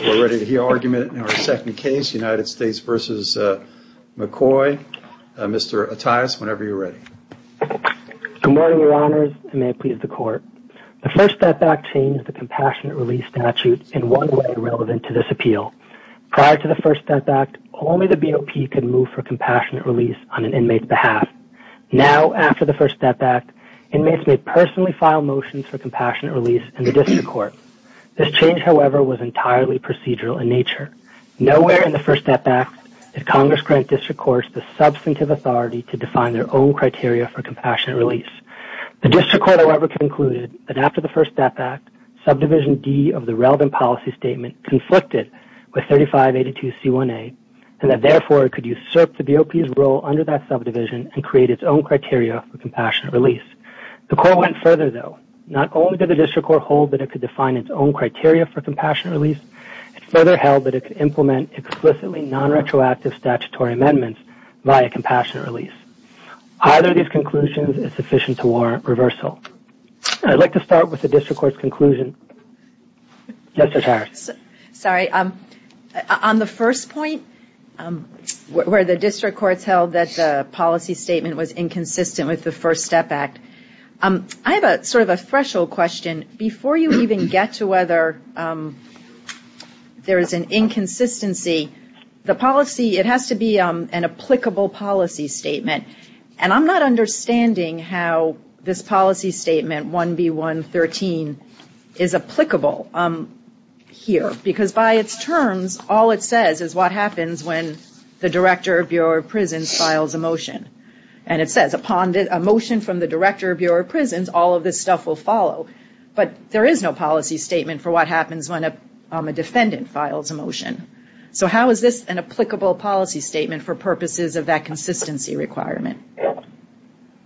We're ready to hear argument in our second case, United States v. McCoy. Mr. Attias, whenever you're ready. Good morning, Your Honors, and may it please the Court. The First Step Act changed the Compassionate Release statute in one way relevant to this appeal. Prior to the First Step Act, only the BOP could move for Compassionate Release on an inmate's behalf. Now, after the First Step Act, inmates may personally file motions for Compassionate Release in the District Court. This change, however, was entirely procedural in nature. Nowhere in the First Step Act did Congress grant District Courts the substantive authority to define their own criteria for Compassionate Release. The District Court, however, concluded that after the First Step Act, Subdivision D of the relevant policy statement conflicted with 3582C1A, and that, therefore, it could usurp the BOP's role under that subdivision and create its own criteria for Compassionate Release. The Court went further, though. Not only did the District Court hold that it could define its own criteria for Compassionate Release, it further held that it could implement explicitly non-retroactive statutory amendments via Compassionate Release. Either of these conclusions is sufficient to warrant reversal. I'd like to start with the District Court's conclusion. Justice Harris. Sorry. On the first point, where the District Courts held that the policy statement was inconsistent with the First Step Act, I have sort of a threshold question. Before you even get to whether there is an inconsistency, the policy, it has to be an applicable policy statement. And I'm not understanding how this policy statement, 1B113, is applicable here. Because by its terms, all it says is what happens when the Director of Bureau of Prisons files a motion. And it says, upon a motion from the Director of Bureau of Prisons, all of this stuff will follow. But there is no policy statement for what happens when a defendant files a motion. So how is this an applicable policy statement for purposes of that consistency requirement?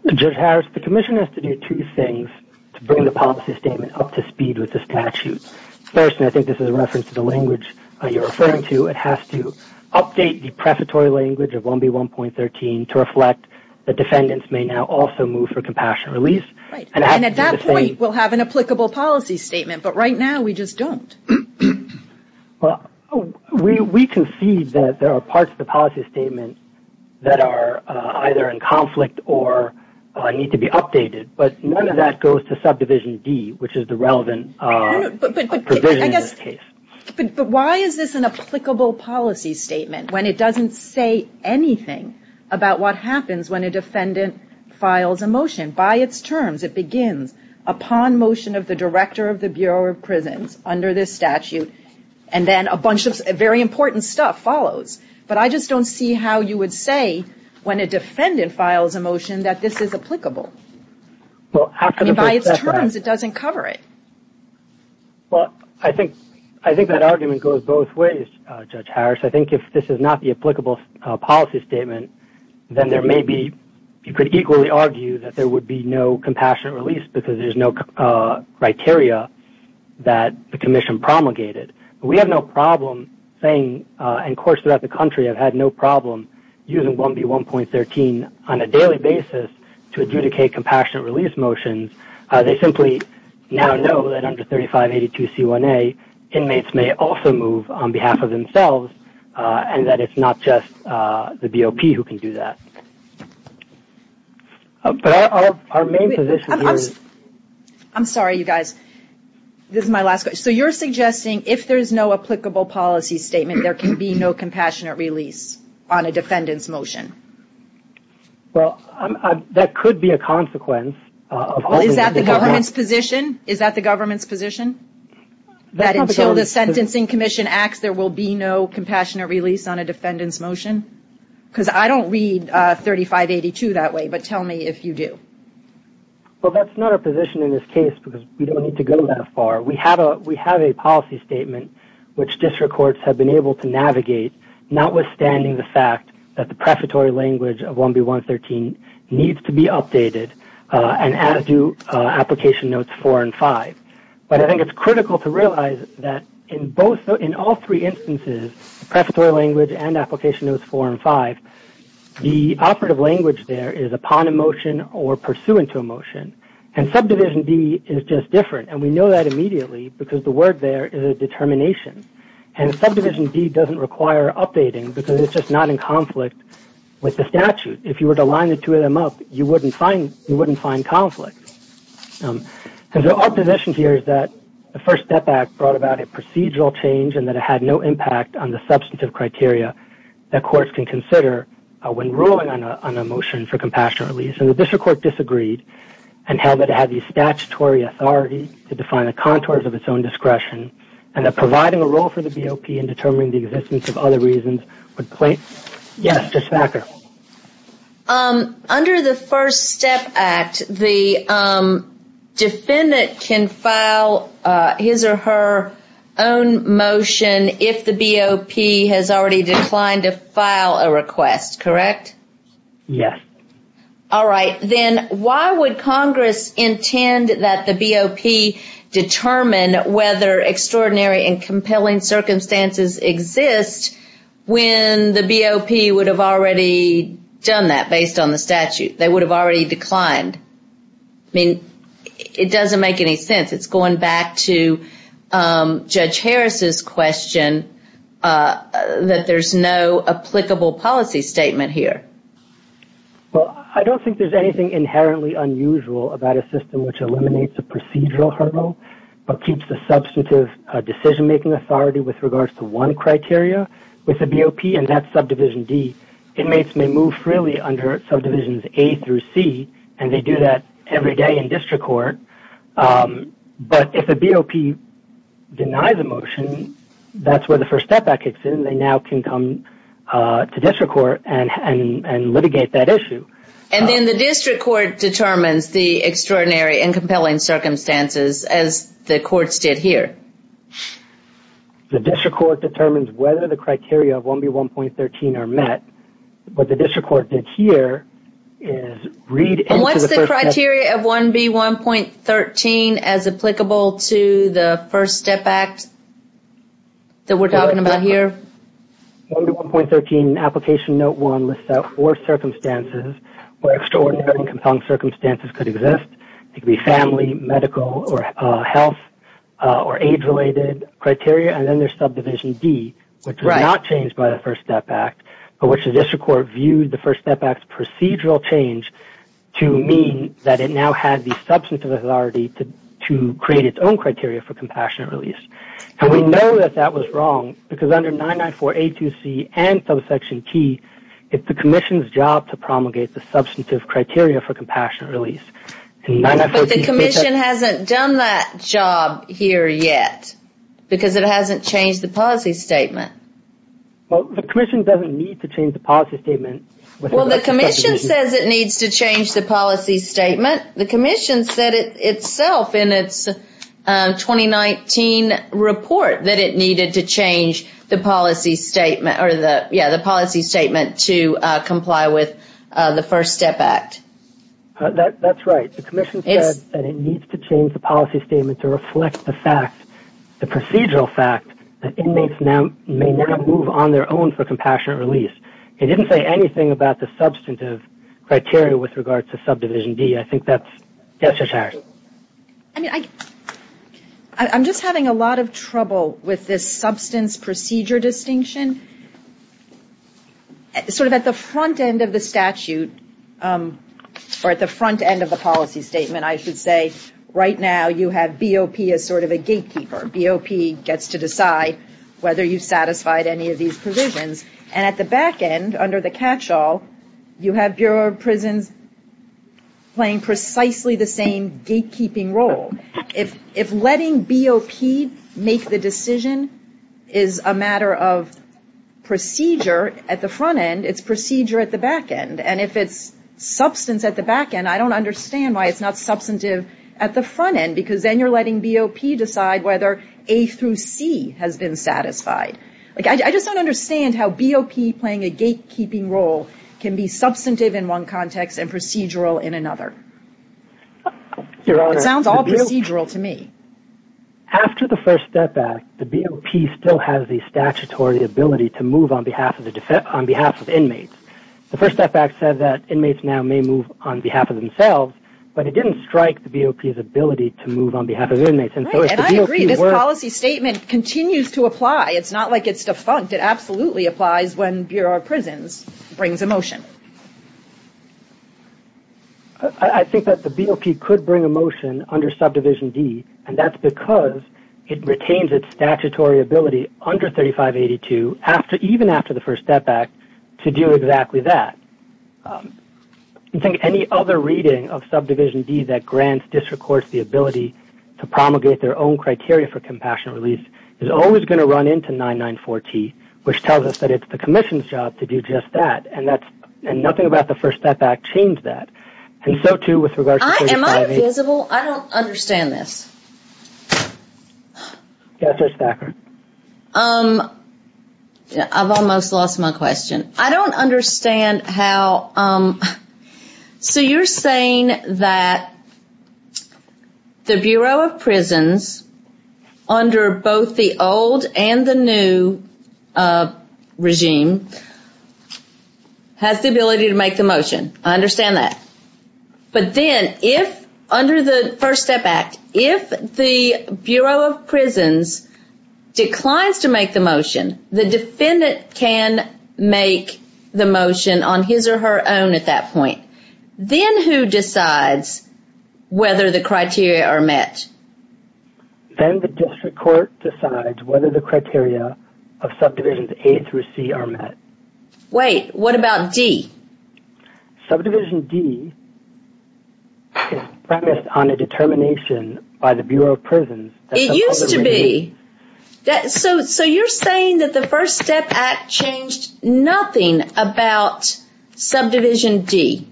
Judge Harris, the Commission has to do two things to bring the policy statement up to speed with the statute. First, and I think this is a reference to the language you're referring to, it has to update the prefatory language of 1B113 to reflect that defendants may now also move for compassion release. Right. And at that point, we'll have an applicable policy statement. But right now, we just don't. Well, we concede that there are parts of the policy statement that are either in conflict or need to be updated. But none of that goes to Subdivision D, which is the relevant provision in this case. But why is this an applicable policy statement when it doesn't say anything about what happens when a defendant files a motion? By its terms, it begins, upon motion of the Director of the Bureau of Prisons under this statute, and then a bunch of very important stuff follows. But I just don't see how you would say when a defendant files a motion that this is applicable. I mean, by its terms, it doesn't cover it. Well, I think that argument goes both ways, Judge Harris. I think if this is not the applicable policy statement, then there may be – you could equally argue that there would be no compassionate release because there's no criteria that the Commission promulgated. But we have no problem saying – and courts throughout the country have had no problem using 1B1.13 on a daily basis to adjudicate compassionate release motions. They simply now know that under 3582C1A, inmates may also move on behalf of themselves and that it's not just the BOP who can do that. But our main position is – I'm sorry, you guys. This is my last question. So you're suggesting if there's no applicable policy statement, there can be no compassionate release on a defendant's motion? Well, that could be a consequence. Well, is that the government's position? Is that the government's position? That until the Sentencing Commission acts, there will be no compassionate release on a defendant's motion? Because I don't read 3582 that way, but tell me if you do. Well, that's not our position in this case because we don't need to go that far. We have a policy statement which district courts have been able to navigate, notwithstanding the fact that the prefatory language of 1B1.13 needs to be updated, and as do Application Notes 4 and 5. But I think it's critical to realize that in all three instances, prefatory language and Application Notes 4 and 5, the operative language there is upon a motion or pursuant to a motion. And Subdivision D is just different. And we know that immediately because the word there is a determination. And Subdivision D doesn't require updating because it's just not in conflict with the statute. If you were to line the two of them up, you wouldn't find conflict. So our position here is that the First Step Act brought about a procedural change and that it had no impact on the substantive criteria that courts can consider when ruling on a motion for compassionate release. And the district court disagreed and held that it had the statutory authority to define the contours of its own discretion and that providing a role for the BOP in determining the existence of other reasons would play. Yes, Ms. Thacker? Under the First Step Act, the defendant can file his or her own motion if the BOP has already declined to file a request, correct? Yes. All right. Then why would Congress intend that the BOP determine whether extraordinary and compelling circumstances exist when the BOP would have already done that based on the statute? They would have already declined. I mean, it doesn't make any sense. It's going back to Judge Harris's question that there's no applicable policy statement here. Well, I don't think there's anything inherently unusual about a system which eliminates a procedural hurdle but keeps a substantive decision-making authority with regards to one criteria with the BOP, and that's Subdivision D. Inmates may move freely under Subdivisions A through C, and they do that every day in district court, but if a BOP denies a motion, that's where the First Step Act kicks in. They now can come to district court and litigate that issue. And then the district court determines the extraordinary and compelling circumstances, as the courts did here. The district court determines whether the criteria of 1B1.13 are met. What the district court did here is read into the First Step Act. And what's the criteria of 1B1.13 as applicable to the First Step Act that we're talking about here? 1B1.13 Application Note 1 lists out four circumstances where extraordinary and compelling circumstances could exist. It could be family, medical, or health, or age-related criteria. And then there's Subdivision D, which was not changed by the First Step Act, but which the district court viewed the First Step Act's procedural change to mean that it now had the substantive authority to create its own criteria for compassionate release. And we know that that was wrong because under 994A2C and Subsection T, it's the commission's job to promulgate the substantive criteria for compassionate release. But the commission hasn't done that job here yet because it hasn't changed the policy statement. Well, the commission doesn't need to change the policy statement. Well, the commission says it needs to change the policy statement. The commission said itself in its 2019 report that it needed to change the policy statement to comply with the First Step Act. That's right. The commission said that it needs to change the policy statement to reflect the fact, the procedural fact that inmates may now move on their own for compassionate release. It didn't say anything about the substantive criteria with regard to Subdivision D. I think that's necessary. I'm just having a lot of trouble with this substance procedure distinction. Sort of at the front end of the statute, or at the front end of the policy statement, I should say, right now you have BOP as sort of a gatekeeper. BOP gets to decide whether you've satisfied any of these provisions. And at the back end, under the catchall, you have Bureau of Prisons playing precisely the same gatekeeping role. If letting BOP make the decision is a matter of procedure at the front end, it's procedure at the back end. And if it's substance at the back end, I don't understand why it's not substantive at the front end because then you're letting BOP decide whether A through C has been satisfied. I just don't understand how BOP playing a gatekeeping role can be substantive in one context and procedural in another. It sounds all procedural to me. After the First Step Act, the BOP still has the statutory ability to move on behalf of inmates. The First Step Act said that inmates now may move on behalf of themselves, but it didn't strike the BOP's ability to move on behalf of inmates. Right, and I agree. This policy statement continues to apply. It's not like it's defunct. It absolutely applies when Bureau of Prisons brings a motion. I think that the BOP could bring a motion under Subdivision D, and that's because it retains its statutory ability under 3582, even after the First Step Act, to do exactly that. I think any other reading of Subdivision D that grants district courts the ability to promulgate their own criteria for compassionate release is always going to run into 994T, which tells us that it's the Commission's job to do just that, and nothing about the First Step Act changed that. And so, too, with regards to 358- Am I invisible? I don't understand this. Yes, Ms. Thacker. I've almost lost my question. I don't understand how- So you're saying that the Bureau of Prisons, under both the old and the new regime, has the ability to make the motion. I understand that. But then, under the First Step Act, if the Bureau of Prisons declines to make the motion, the defendant can make the motion on his or her own at that point. Then who decides whether the criteria are met? Then the district court decides whether the criteria of Subdivisions A through C are met. Wait, what about D? Subdivision D is premised on a determination by the Bureau of Prisons- It used to be. So you're saying that the First Step Act changed nothing about Subdivision D.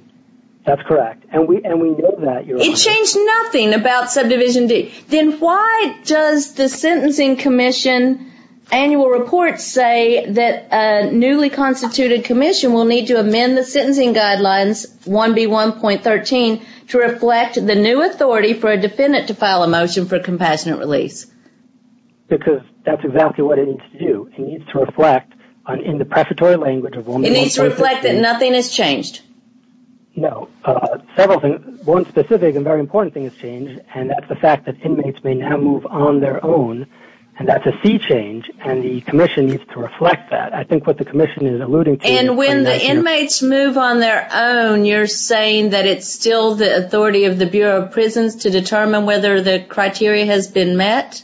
That's correct, and we know that, Your Honor. It changed nothing about Subdivision D. Then why does the Sentencing Commission annual report say that a newly constituted commission will need to amend the Sentencing Guidelines 1B1.13 to reflect the new authority for a defendant to file a motion for compassionate release? Because that's exactly what it needs to do. It needs to reflect, in the prefatory language- It needs to reflect that nothing has changed. No. One specific and very important thing has changed, and that's the fact that inmates may now move on their own. That's a C change, and the commission needs to reflect that. I think what the commission is alluding to- And when the inmates move on their own, you're saying that it's still the authority of the Bureau of Prisons to determine whether the criteria has been met?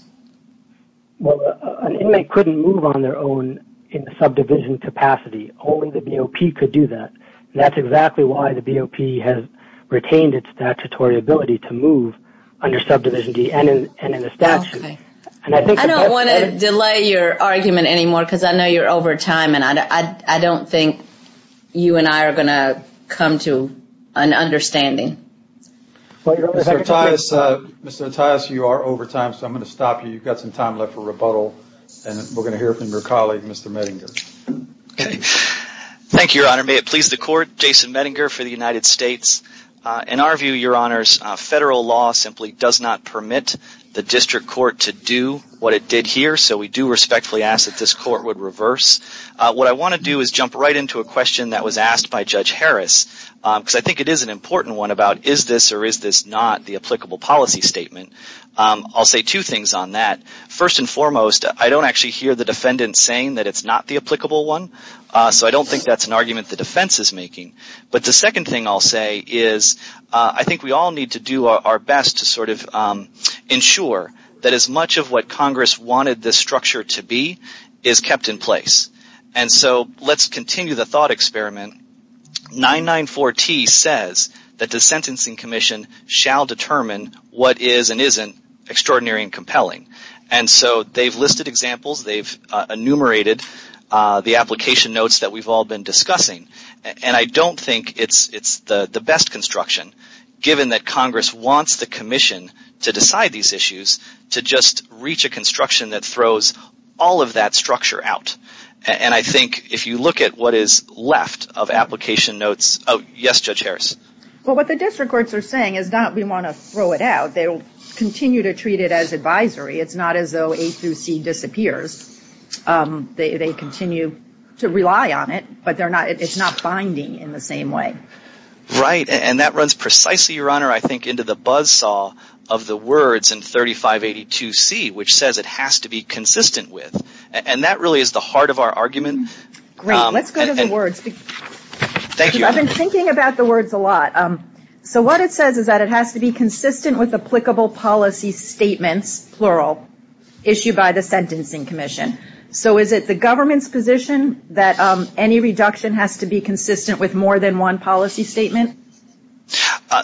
Well, an inmate couldn't move on their own in the subdivision capacity. Only the BOP could do that, and that's exactly why the BOP has retained its statutory ability to move under Subdivision D and in the statute. I don't want to delay your argument anymore, because I know you're over time, and I don't think you and I are going to come to an understanding. Mr. Mattias, you are over time, so I'm going to stop you. You've got some time left for rebuttal, and we're going to hear from your colleague, Mr. Medinger. Thank you, Your Honor. May it please the Court, Jason Medinger for the United States. In our view, Your Honor, federal law simply does not permit the district court to do what it did here, so we do respectfully ask that this court would reverse. What I want to do is jump right into a question that was asked by Judge Harris, because I think it is an important one about is this or is this not the applicable policy statement. I'll say two things on that. First and foremost, I don't actually hear the defendant saying that it's not the applicable one, so I don't think that's an argument the defense is making. But the second thing I'll say is I think we all need to do our best to sort of ensure that as much of what Congress wanted this structure to be is kept in place. And so let's continue the thought experiment. 994T says that the Sentencing Commission shall determine what is and isn't extraordinary and compelling. And so they've listed examples. They've enumerated the application notes that we've all been discussing. And I don't think it's the best construction, given that Congress wants the commission to decide these issues, to just reach a construction that throws all of that structure out. And I think if you look at what is left of application notes – oh, yes, Judge Harris? Well, what the district courts are saying is not we want to throw it out. They'll continue to treat it as advisory. It's not as though A through C disappears. They continue to rely on it, but it's not binding in the same way. Right. And that runs precisely, Your Honor, I think, into the buzzsaw of the words in 3582C, which says it has to be consistent with. And that really is the heart of our argument. Great. Let's go to the words. Thank you. I've been thinking about the words a lot. So what it says is that it has to be consistent with applicable policy statements, plural, issued by the Sentencing Commission. So is it the government's position that any reduction has to be consistent with more than one policy statement?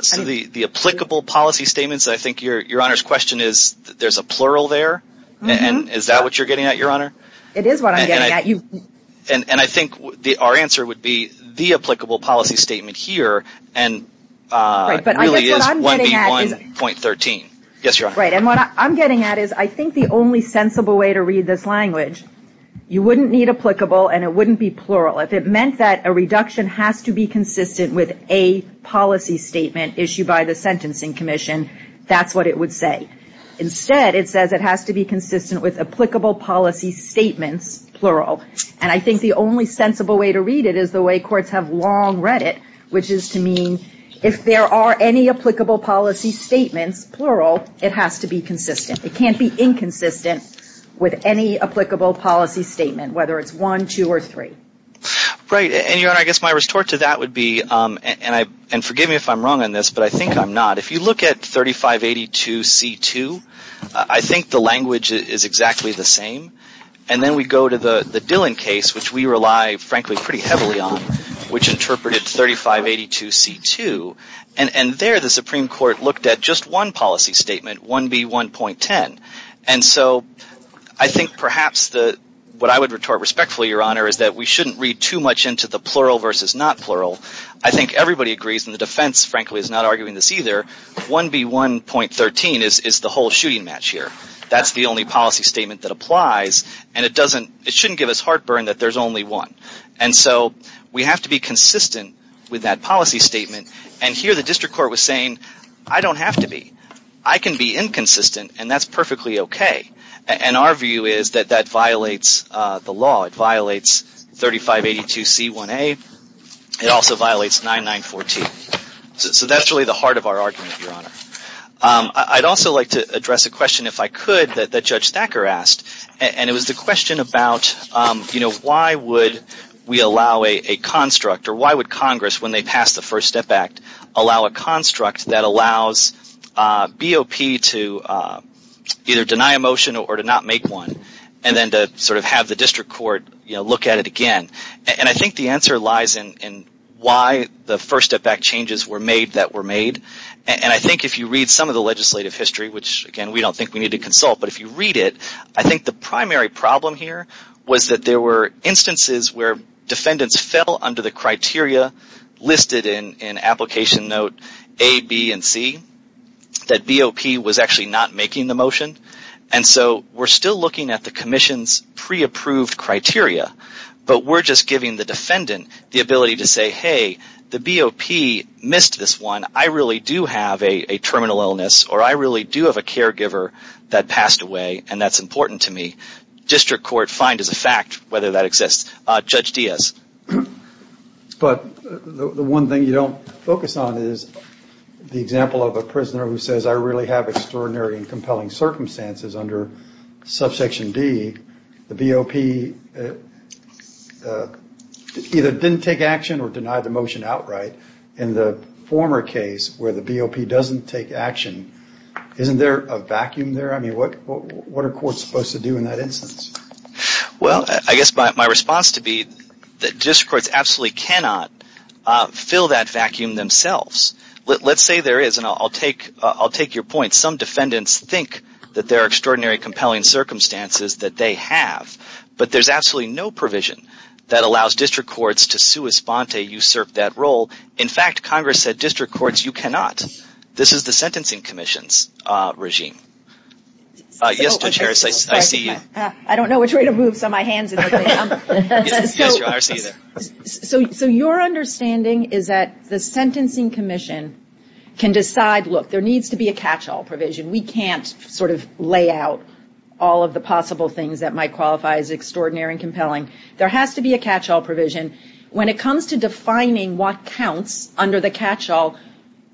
So the applicable policy statements, I think Your Honor's question is there's a plural there? And is that what you're getting at, Your Honor? It is what I'm getting at. And I think our answer would be the applicable policy statement here really is 1B1.13. Yes, Your Honor. Right. And what I'm getting at is I think the only sensible way to read this language, you wouldn't need applicable and it wouldn't be plural. If it meant that a reduction has to be consistent with a policy statement issued by the Sentencing Commission, that's what it would say. Instead, it says it has to be consistent with applicable policy statements, plural. And I think the only sensible way to read it is the way courts have long read it, which is to mean if there are any applicable policy statements, plural, it has to be consistent. It can't be inconsistent with any applicable policy statement, whether it's one, two, or three. Right. And, Your Honor, I guess my resort to that would be, and forgive me if I'm wrong on this, but I think I'm not. If you look at 3582C2, I think the language is exactly the same. And then we go to the Dillon case, which we rely, frankly, pretty heavily on, which interpreted 3582C2. And there the Supreme Court looked at just one policy statement, 1B1.10. And so I think perhaps what I would retort respectfully, Your Honor, is that we shouldn't read too much into the plural versus not plural. I think everybody agrees, and the defense, frankly, is not arguing this either, 1B1.13 is the whole shooting match here. That's the only policy statement that applies, and it shouldn't give us heartburn that there's only one. And so we have to be consistent with that policy statement. And here the district court was saying, I don't have to be. I can be inconsistent, and that's perfectly okay. And our view is that that violates the law. It violates 3582C1A. It also violates 9914. So that's really the heart of our argument, Your Honor. I'd also like to address a question, if I could, that Judge Thacker asked, and it was the question about, you know, why would we allow a construct, or why would Congress, when they pass the First Step Act, allow a construct that allows BOP to either deny a motion or to not make one, and then to sort of have the district court, you know, look at it again. And I think the answer lies in why the First Step Act changes were made that were made. And I think if you read some of the legislative history, which, again, we don't think we need to consult, but if you read it, I think the primary problem here was that there were instances where defendants fell under the criteria listed in Application Note A, B, and C, that BOP was actually not making the motion. And so we're still looking at the Commission's pre-approved criteria, but we're just giving the defendant the ability to say, hey, the BOP missed this one, I really do have a terminal illness, or I really do have a caregiver that passed away, and that's important to me. District court find as a fact whether that exists. Judge Diaz. But the one thing you don't focus on is the example of a prisoner who says, I really have extraordinary and compelling circumstances under Subsection D. The BOP either didn't take action or denied the motion outright. In the former case where the BOP doesn't take action, isn't there a vacuum there? I mean, what are courts supposed to do in that instance? Well, I guess my response to be that district courts absolutely cannot fill that vacuum themselves. Let's say there is, and I'll take your point. Some defendants think that there are extraordinary and compelling circumstances that they have, but there's absolutely no provision that allows district courts to sua sponte, usurp that role. In fact, Congress said district courts, you cannot. This is the Sentencing Commission's regime. Yes, Judge Harris, I see you. I don't know which way to move, so my hand's in the way. There needs to be a catch-all provision. We can't sort of lay out all of the possible things that might qualify as extraordinary and compelling. There has to be a catch-all provision. When it comes to defining what counts under the catch-all,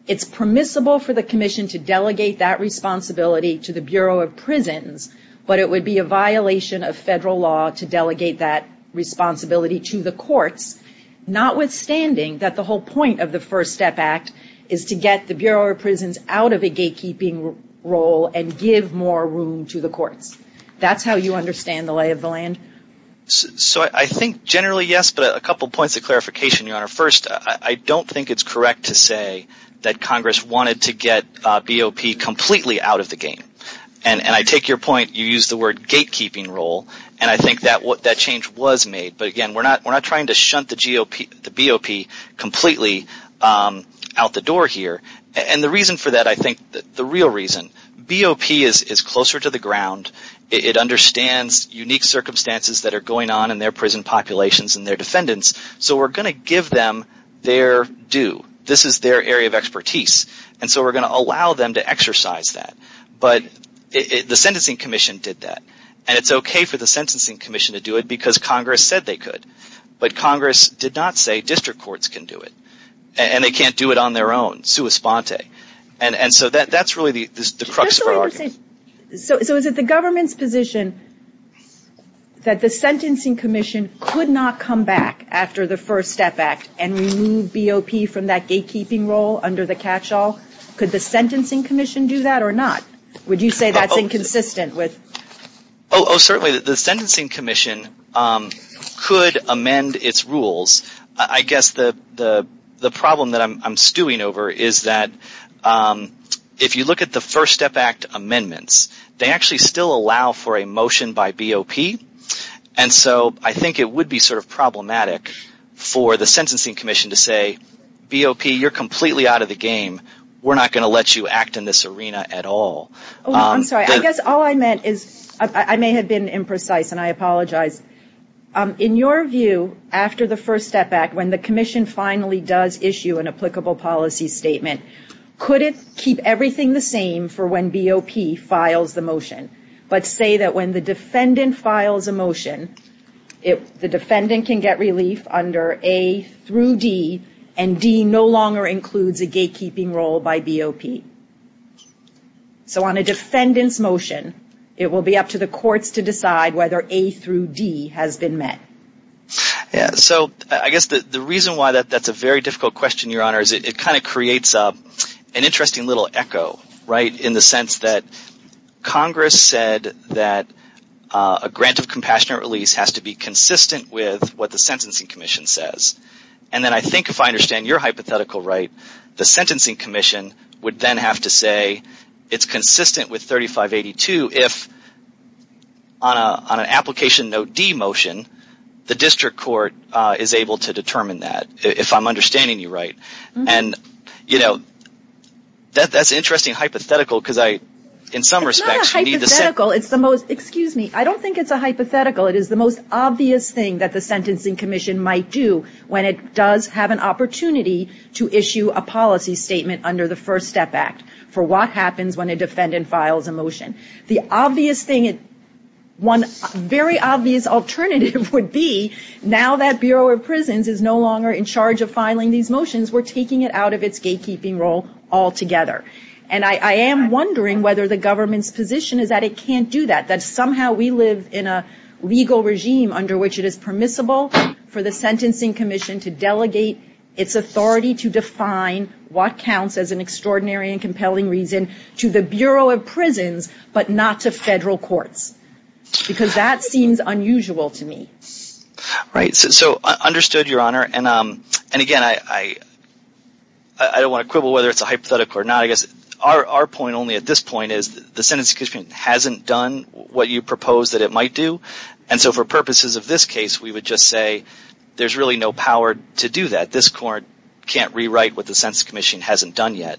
it's permissible for the commission to delegate that responsibility to the Bureau of Prisons, but it would be a violation of federal law to delegate that responsibility to the courts, notwithstanding that the whole point of the First Step Act is to get the Bureau of Prisons out of a gatekeeping role and give more room to the courts. That's how you understand the lay of the land? So I think generally, yes, but a couple points of clarification, Your Honor. First, I don't think it's correct to say that Congress wanted to get BOP completely out of the game, and I take your point. You used the word gatekeeping role, and I think that change was made, but again, we're not trying to shunt the BOP completely out the door here. And the reason for that, I think, the real reason, BOP is closer to the ground. It understands unique circumstances that are going on in their prison populations and their defendants, so we're going to give them their due. This is their area of expertise, and so we're going to allow them to exercise that. But the Sentencing Commission did that, and it's okay for the Sentencing Commission to do it because Congress said they could, but Congress did not say district courts can do it, and they can't do it on their own, sua sponte, and so that's really the crux of our argument. So is it the government's position that the Sentencing Commission could not come back after the First Step Act and remove BOP from that gatekeeping role under the catch-all? Could the Sentencing Commission do that or not? Would you say that's inconsistent with? Oh, certainly, the Sentencing Commission could amend its rules. I guess the problem that I'm stewing over is that if you look at the First Step Act amendments, they actually still allow for a motion by BOP, and so I think it would be sort of problematic for the Sentencing Commission to say, BOP, you're completely out of the game. We're not going to let you act in this arena at all. Oh, I'm sorry. I guess all I meant is I may have been imprecise, and I apologize. In your view, after the First Step Act, when the commission finally does issue an applicable policy statement, could it keep everything the same for when BOP files the motion, but say that when the defendant files a motion, the defendant can get relief under A through D, and D no longer includes a gatekeeping role by BOP? So on a defendant's motion, it will be up to the courts to decide whether A through D has been met. Yeah, so I guess the reason why that's a very difficult question, Your Honor, is it kind of creates an interesting little echo, right, in the sense that Congress said that a grant of compassionate release has to be consistent with what the Sentencing Commission says, and then I think if I understand your hypothetical right, the Sentencing Commission would then have to say, it's consistent with 3582 if, on an application note D motion, the district court is able to determine that, if I'm understanding you right. And, you know, that's an interesting hypothetical because I, in some respects, It's not a hypothetical. It's the most, excuse me, I don't think it's a hypothetical. It is the most obvious thing that the Sentencing Commission might do when it does have an opportunity to issue a policy statement under the First Step Act for what happens when a defendant files a motion. The obvious thing, one very obvious alternative would be, now that Bureau of Prisons is no longer in charge of filing these motions, we're taking it out of its gatekeeping role altogether. And I am wondering whether the government's position is that it can't do that, that somehow we live in a legal regime under which it is permissible for the Sentencing Commission to delegate its authority to define what counts as an extraordinary and compelling reason to the Bureau of Prisons, but not to federal courts. Because that seems unusual to me. Right, so understood, Your Honor. And again, I don't want to quibble whether it's a hypothetical or not. I guess our point only at this point is the Sentencing Commission hasn't done what you propose that it might do. And so for purposes of this case, we would just say there's really no power to do that. This court can't rewrite what the Sentencing Commission hasn't done yet.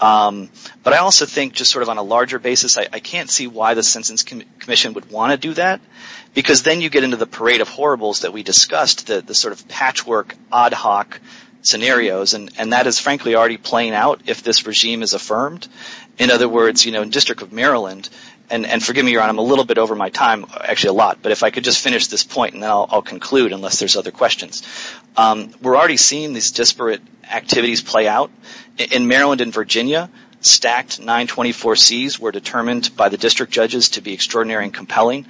But I also think, just sort of on a larger basis, I can't see why the Sentencing Commission would want to do that. Because then you get into the parade of horribles that we discussed, the sort of patchwork, ad hoc scenarios. And that is frankly already playing out if this regime is affirmed. In other words, in the District of Maryland, and forgive me, Your Honor, I'm a little bit over my time, actually a lot, but if I could just finish this point and then I'll conclude unless there's other questions. We're already seeing these disparate activities play out. In Maryland and Virginia, stacked 924Cs were determined by the district judges to be extraordinary and compelling.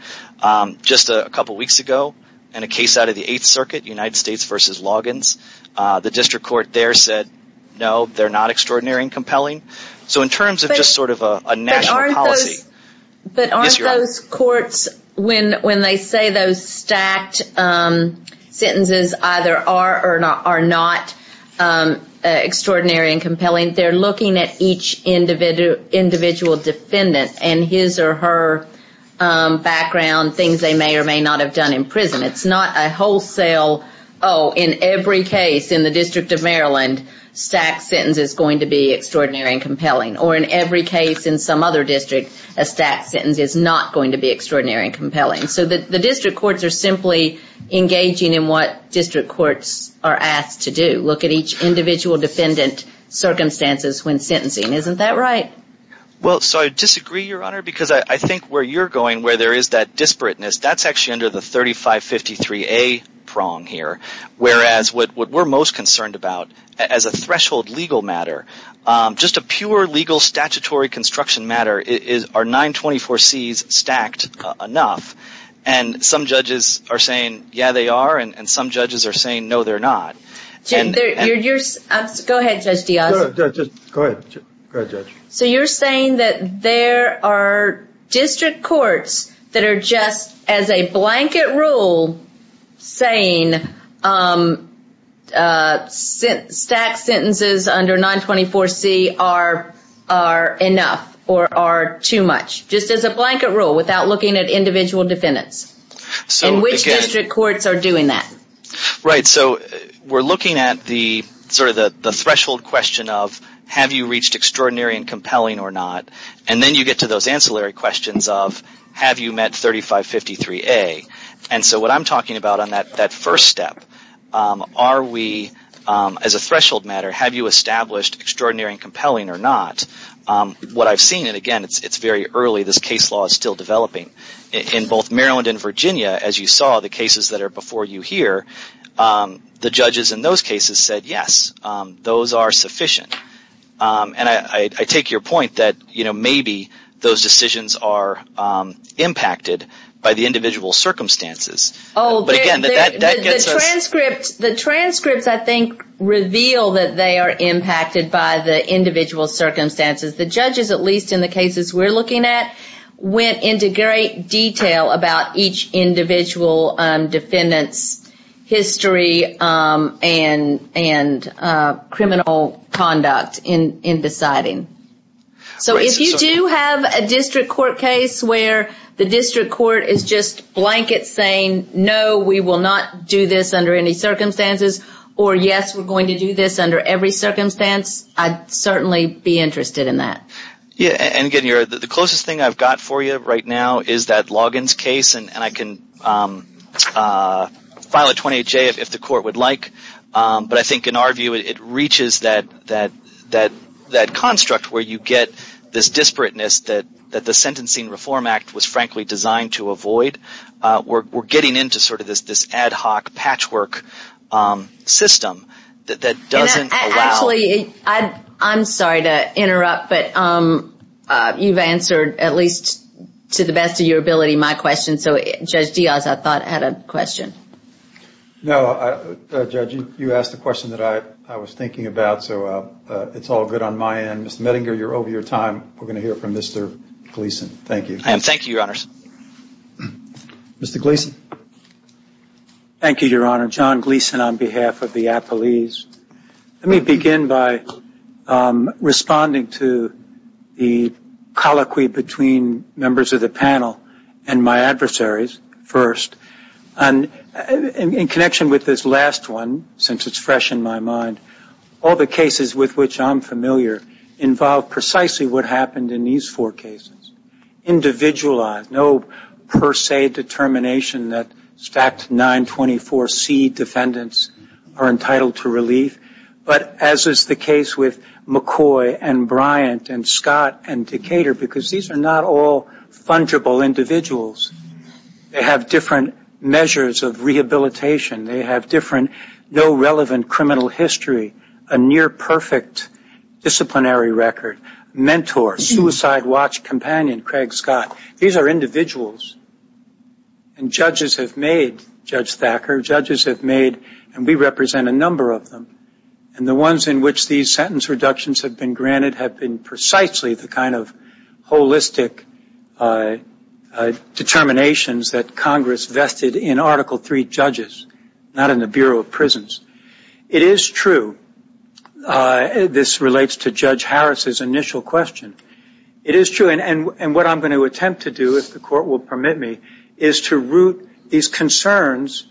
Just a couple weeks ago, in a case out of the Eighth Circuit, United States v. Loggins, the district court there said, no, they're not extraordinary and compelling. So in terms of just sort of a national policy. But aren't those courts, when they say those stacked sentences either are or are not extraordinary and compelling, they're looking at each individual defendant and his or her background, things they may or may not have done in prison. It's not a wholesale, oh, in every case in the District of Maryland, stacked sentence is going to be extraordinary and compelling. Or in every case in some other district, a stacked sentence is not going to be extraordinary and compelling. So the district courts are simply engaging in what district courts are asked to do. Look at each individual defendant circumstances when sentencing. Isn't that right? Well, so I disagree, Your Honor, because I think where you're going, where there is that disparateness, that's actually under the 3553A prong here, whereas what we're most concerned about as a threshold legal matter, just a pure legal statutory construction matter, are 924Cs stacked enough? And some judges are saying, yeah, they are. And some judges are saying, no, they're not. Go ahead, Judge Diaz. Go ahead, Judge. So you're saying that there are district courts that are just, as a blanket rule, saying stacked sentences under 924C are enough or are too much, just as a blanket rule, without looking at individual defendants? And which district courts are doing that? Right. So we're looking at sort of the threshold question of, have you reached extraordinary and compelling or not? And then you get to those ancillary questions of, have you met 3553A? And so what I'm talking about on that first step, are we, as a threshold matter, have you established extraordinary and compelling or not? What I've seen, and again, it's very early. This case law is still developing. In both Maryland and Virginia, as you saw, the cases that are before you here, the judges in those cases said, yes, those are sufficient. And I take your point that, you know, maybe those decisions are impacted by the individual circumstances. Oh, the transcripts, I think, reveal that they are impacted by the individual circumstances. The judges, at least in the cases we're looking at, went into great detail about each individual defendant's history and criminal conduct in deciding. So if you do have a district court case where the district court is just blanket saying, no, we will not do this under any circumstances, or yes, we're going to do this under every circumstance, I'd certainly be interested in that. Yeah, and again, the closest thing I've got for you right now is that Loggins case, and I can file a 28-J if the court would like. But I think, in our view, it reaches that construct where you get this disparateness that the Sentencing Reform Act was, frankly, designed to avoid. We're getting into sort of this ad hoc patchwork system that doesn't allow. Actually, I'm sorry to interrupt, but you've answered, at least to the best of your ability, my question. So Judge Diaz, I thought, had a question. No, Judge, you asked a question that I was thinking about, so it's all good on my end. Mr. Mettinger, you're over your time. We're going to hear from Mr. Gleeson. Thank you. Thank you, Your Honors. Mr. Gleeson. Thank you, Your Honor. John Gleeson on behalf of the appellees. Let me begin by responding to the colloquy between members of the panel and my adversaries first. In connection with this last one, since it's fresh in my mind, all the cases with which I'm familiar involve precisely what happened in these four cases. Individualized, no per se determination that stacked 924C defendants are entitled to relief, but as is the case with McCoy and Bryant and Scott and Decatur, because these are not all fungible individuals. They have different measures of rehabilitation. They have different, no relevant criminal history, a near perfect disciplinary record, mentor, suicide watch companion, Craig Scott. These are individuals, and judges have made, Judge Thacker, judges have made, and we represent a number of them, and the ones in which these sentence reductions have been granted have been precisely the kind of holistic determinations that Congress vested in Article III judges, not in the Bureau of Prisons. It is true. This relates to Judge Harris's initial question. It is true, and what I'm going to attempt to do, if the Court will permit me, is to root these concerns.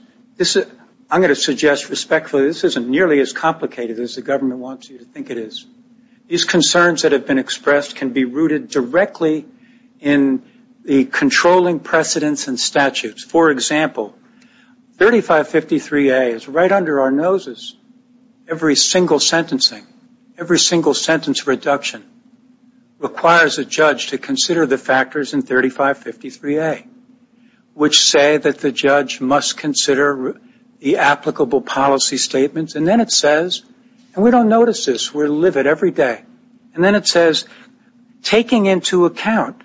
I'm going to suggest respectfully this isn't nearly as complicated as the government wants you to think it is. These concerns that have been expressed can be rooted directly in the controlling precedents and statutes. For example, 3553A is right under our noses. Every single sentencing, every single sentence reduction requires a judge to consider the factors in 3553A, which say that the judge must consider the applicable policy statements, and then it says, and we don't notice this, we live it every day, and then it says, taking into account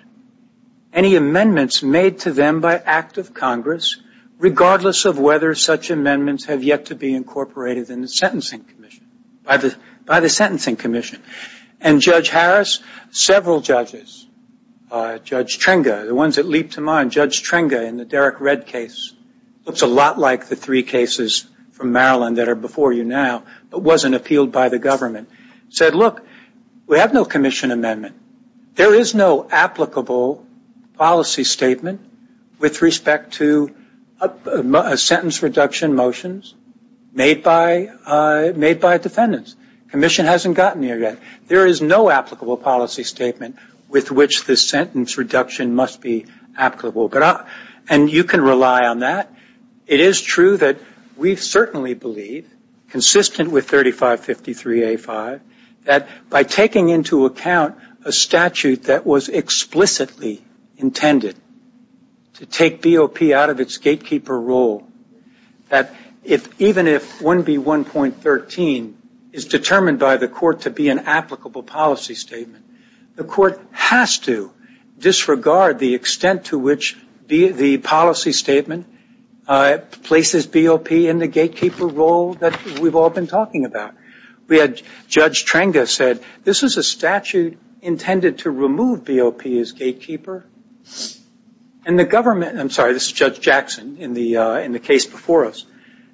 any amendments made to them by act of Congress, regardless of whether such amendments have yet to be incorporated in the sentencing commission, by the sentencing commission, and Judge Harris, several judges, Judge Trenga, the ones that leap to mind, Judge Trenga in the Derek Redd case looks a lot like the three cases from Maryland that are before you now, but wasn't appealed by the government, said, look, we have no commission amendment. There is no applicable policy statement with respect to sentence reduction motions made by defendants. The commission hasn't gotten here yet. There is no applicable policy statement with which the sentence reduction must be applicable. And you can rely on that. It is true that we certainly believe, consistent with 3553A-5, that by taking into account a statute that was explicitly intended to take BOP out of its gatekeeper role, that even if 1B1.13 is determined by the court to be an applicable policy statement, the court has to disregard the extent to which the policy statement places BOP in the gatekeeper role that we've all been talking about. We had Judge Trenga said, this is a statute intended to remove BOP as gatekeeper. And the government, I'm sorry, this is Judge Jackson in the case before us,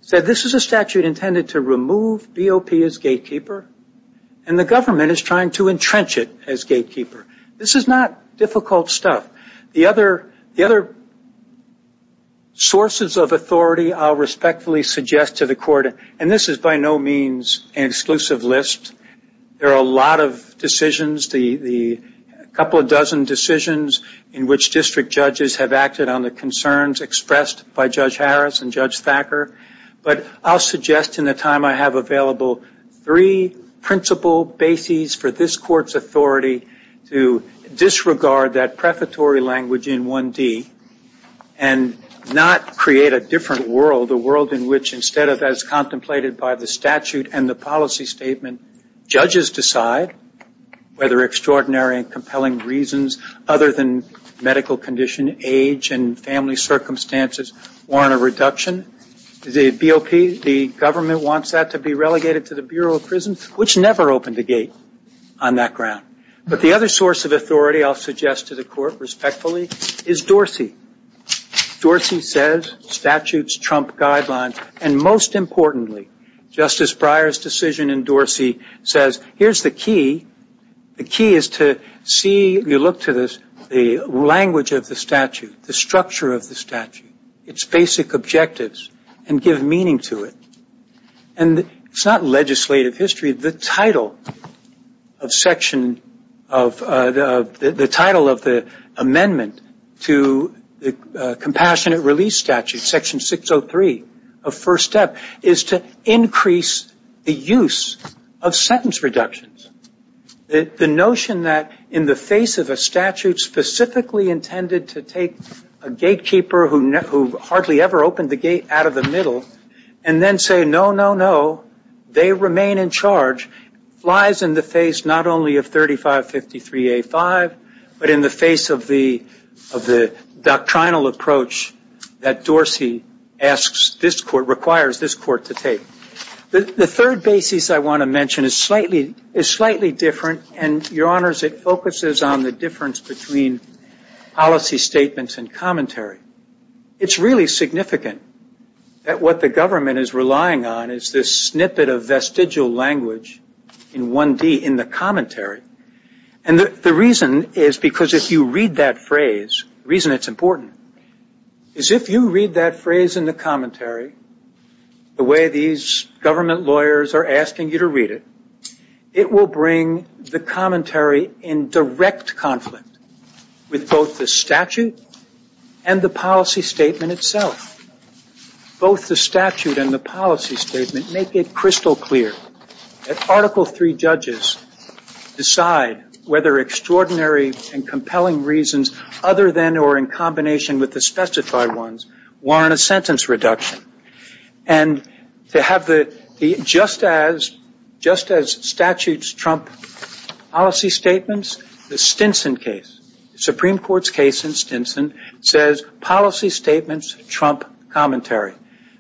said this is a statute intended to remove BOP as gatekeeper, and the government is trying to entrench it as gatekeeper. This is not difficult stuff. The other sources of authority I'll respectfully suggest to the court, and this is by no means an exclusive list. There are a lot of decisions, a couple dozen decisions, in which district judges have acted on the concerns expressed by Judge Harris and Judge Thacker. But I'll suggest in the time I have available three principal bases for this court's authority to disregard that prefatory language in 1D and not create a different world, a world in which instead of as contemplated by the statute and the policy statement, judges decide whether extraordinary and compelling reasons other than medical condition, age, and family circumstances warrant a reduction. The BOP, the government wants that to be relegated to the Bureau of Prisons, which never opened a gate on that ground. But the other source of authority I'll suggest to the court respectfully is Dorsey. Dorsey says statutes trump guidelines, and most importantly, Justice Breyer's decision in Dorsey says here's the key. The key is to see, you look to the language of the statute, the structure of the statute, its basic objectives, and give meaning to it. And it's not legislative history. The title of the amendment to the Compassionate Release Statute, Section 603 of First Step, is to increase the use of sentence reductions. The notion that in the face of a statute specifically intended to take a gatekeeper who hardly ever opened the gate out of the middle and then say, no, no, no, they remain in charge, lies in the face not only of 3553A5, but in the face of the doctrinal approach that Dorsey asks this court, requires this court to take. The third basis I want to mention is slightly different, and, Your Honors, it focuses on the difference between policy statements and commentary. It's really significant that what the government is relying on is this snippet of vestigial language in 1D, in the commentary. And the reason is because if you read that phrase, the reason it's important, is if you read that phrase in the commentary the way these government lawyers are asking you to read it, it will bring the commentary in direct conflict with both the statute and the policy statement itself. Both the statute and the policy statement make it crystal clear that Article III judges decide whether extraordinary and compelling reasons other than or in combination with the specified ones warrant a sentence reduction. And to have just as statutes trump policy statements, the Stinson case, Supreme Court's case in Stinson, says policy statements trump commentary.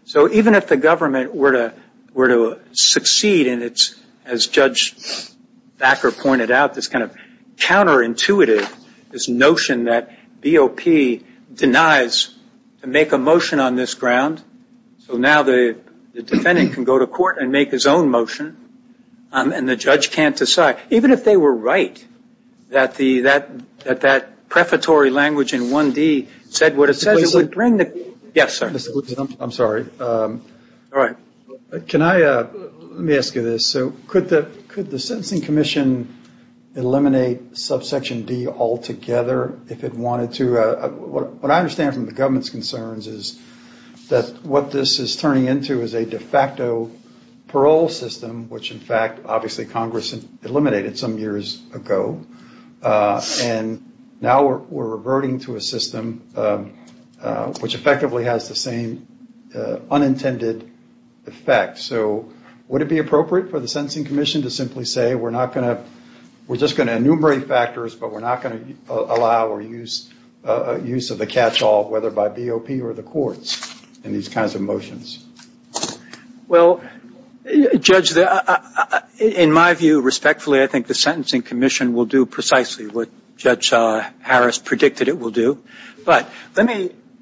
So even if the government were to succeed in its, as Judge Backer pointed out, this kind of counterintuitive, this notion that BOP denies to make a motion on this ground, so now the defendant can go to court and make his own motion, and the judge can't decide. Even if they were right that that prefatory language in 1D said what it says, it would bring the – yes, sir. I'm sorry. All right. Can I – let me ask you this. So could the Sentencing Commission eliminate subsection D altogether if it wanted to? What I understand from the government's concerns is that what this is turning into is a de facto parole system, which, in fact, obviously Congress eliminated some years ago. And now we're reverting to a system which effectively has the same unintended effect. So would it be appropriate for the Sentencing Commission to simply say we're not going to – we're just going to enumerate factors, but we're not going to allow or use of the catch-all, whether by BOP or the courts in these kinds of motions? Well, Judge, in my view, respectfully, I think the Sentencing Commission will do precisely what Judge Harris predicted it will do. But let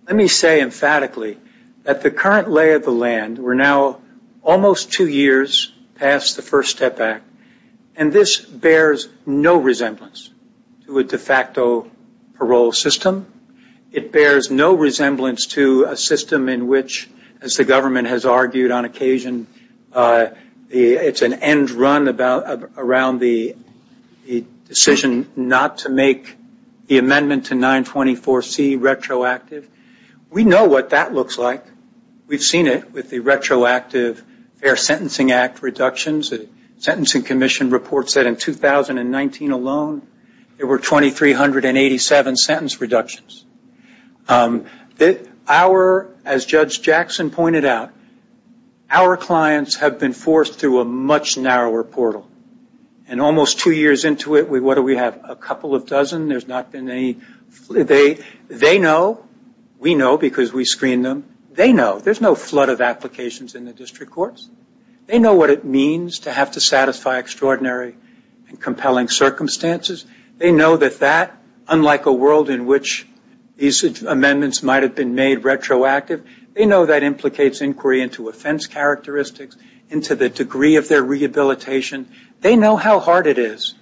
me say emphatically that the current lay of the land, we're now almost two years past the First Step Act, and this bears no resemblance to a de facto parole system. It bears no resemblance to a system in which, as the government has argued on occasion, it's an end run around the decision not to make the amendment to 924C retroactive. We know what that looks like. We've seen it with the retroactive Fair Sentencing Act reductions. The Sentencing Commission report said in 2019 alone there were 2,387 sentence reductions. Our – as Judge Jackson pointed out, our clients have been forced through a much narrower portal. And almost two years into it, what do we have? A couple of dozen. There's not been any – they know. We know because we screen them. They know. There's no flood of applications in the district courts. They know what it means to have to satisfy extraordinary and compelling circumstances. They know that that, unlike a world in which these amendments might have been made retroactive, they know that implicates inquiry into offense characteristics, into the degree of their rehabilitation. They know how hard it is.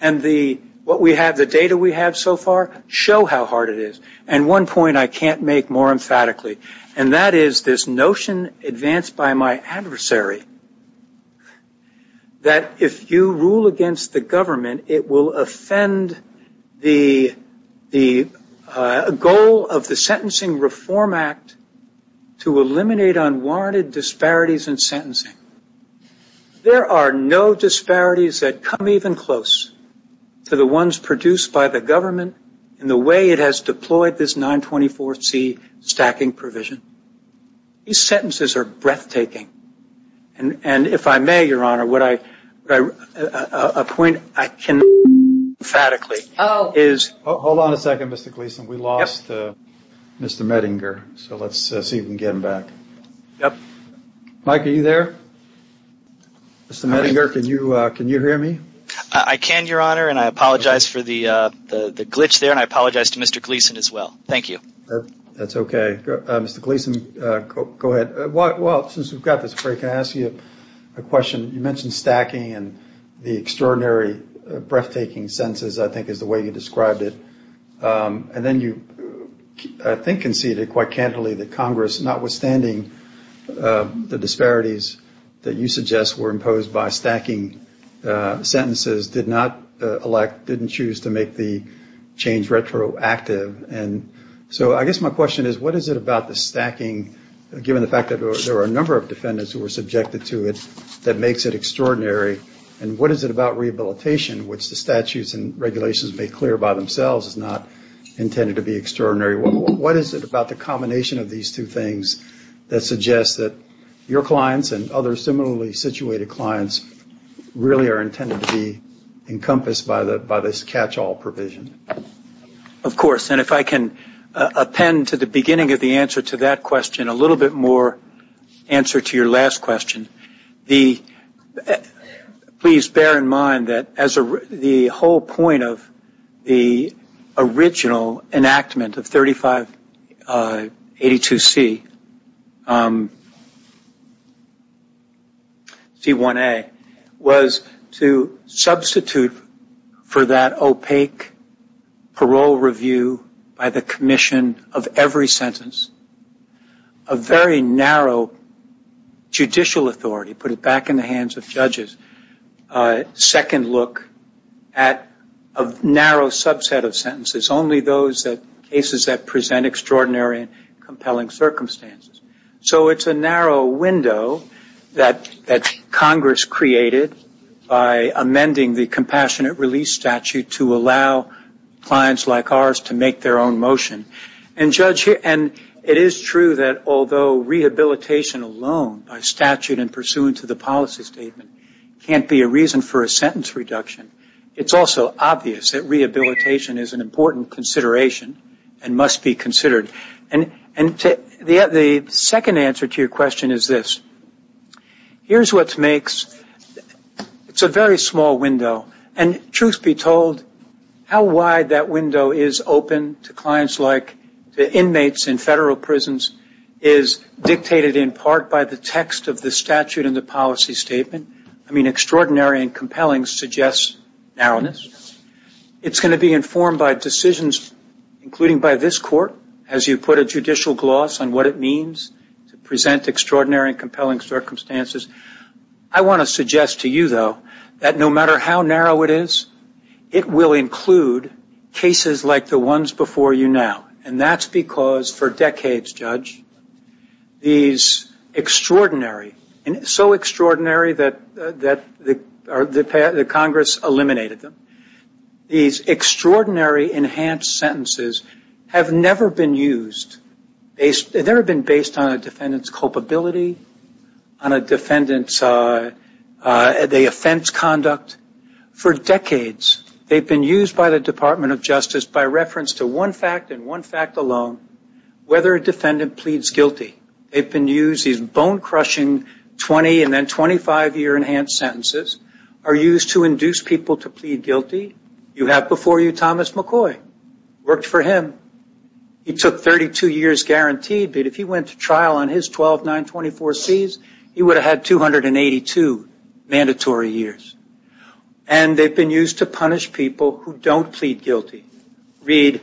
And the – what we have, the data we have so far, show how hard it is. And one point I can't make more emphatically, and that is this notion advanced by my adversary that if you rule against the government, it will offend the goal of the Sentencing Reform Act to eliminate unwarranted disparities in sentencing. There are no disparities that come even close to the ones produced by the government in the way it has deployed this 924C stacking provision. These sentences are breathtaking. And if I may, Your Honor, would I – a point I cannot make emphatically is – Hold on a second, Mr. Gleason. We lost Mr. Mettinger, so let's see if we can get him back. Mike, are you there? Mr. Mettinger, can you hear me? I can, Your Honor, and I apologize for the glitch there, and I apologize to Mr. Gleason as well. Thank you. That's okay. Mr. Gleason, go ahead. Well, since we've got this break, can I ask you a question? You mentioned stacking and the extraordinary, breathtaking sentences, I think, is the way you described it. And then you, I think, conceded quite candidly that Congress, notwithstanding the disparities that you suggest, were imposed by stacking sentences, did not elect – didn't choose to make the change retroactive. And so I guess my question is, what is it about the stacking, given the fact that there are a number of defendants who were subjected to it, that makes it extraordinary? And what is it about rehabilitation, which the statutes and regulations make clear by themselves, is not intended to be extraordinary? What is it about the combination of these two things that suggests that your clients and other similarly situated clients really are intended to be encompassed by this catch-all provision? Of course. And if I can append to the beginning of the answer to that question a little bit more answer to your last question, please bear in mind that the whole point of the original enactment of 3582C, C1A, was to substitute for that opaque parole review by the commission of every sentence a very narrow judicial authority, put it back in the hands of judges, a second look at a narrow subset of sentences, only those cases that present extraordinary and compelling circumstances. So it's a narrow window that Congress created by amending the compassionate release statute to allow clients like ours to make their own motion. And it is true that although rehabilitation alone by statute and pursuant to the policy statement can't be a reason for a sentence reduction, it's also obvious that rehabilitation is an important consideration and must be considered. And the second answer to your question is this. Here's what makes, it's a very small window. And truth be told, how wide that window is open to clients like the inmates in federal prisons is dictated in part by the text of the statute and the policy statement. I mean, extraordinary and compelling suggests narrowness. It's going to be informed by decisions, including by this court, as you put a judicial gloss on what it means to present extraordinary and compelling circumstances. I want to suggest to you, though, that no matter how narrow it is, it will include cases like the ones before you now. And that's because for decades, Judge, these extraordinary, so extraordinary that Congress eliminated them, these extraordinary enhanced sentences have never been used, they've never been based on a defendant's culpability, on a defendant's, the offense conduct. For decades, they've been used by the Department of Justice by reference to one fact and one fact alone, whether a defendant pleads guilty. They've been used, these bone-crushing 20 and then 25-year enhanced sentences are used to induce people to plead guilty. You have before you Thomas McCoy. Worked for him. He took 32 years guaranteed, but if he went to trial on his 12-924Cs, he would have had 282 mandatory years. And they've been used to punish people who don't plead guilty. Read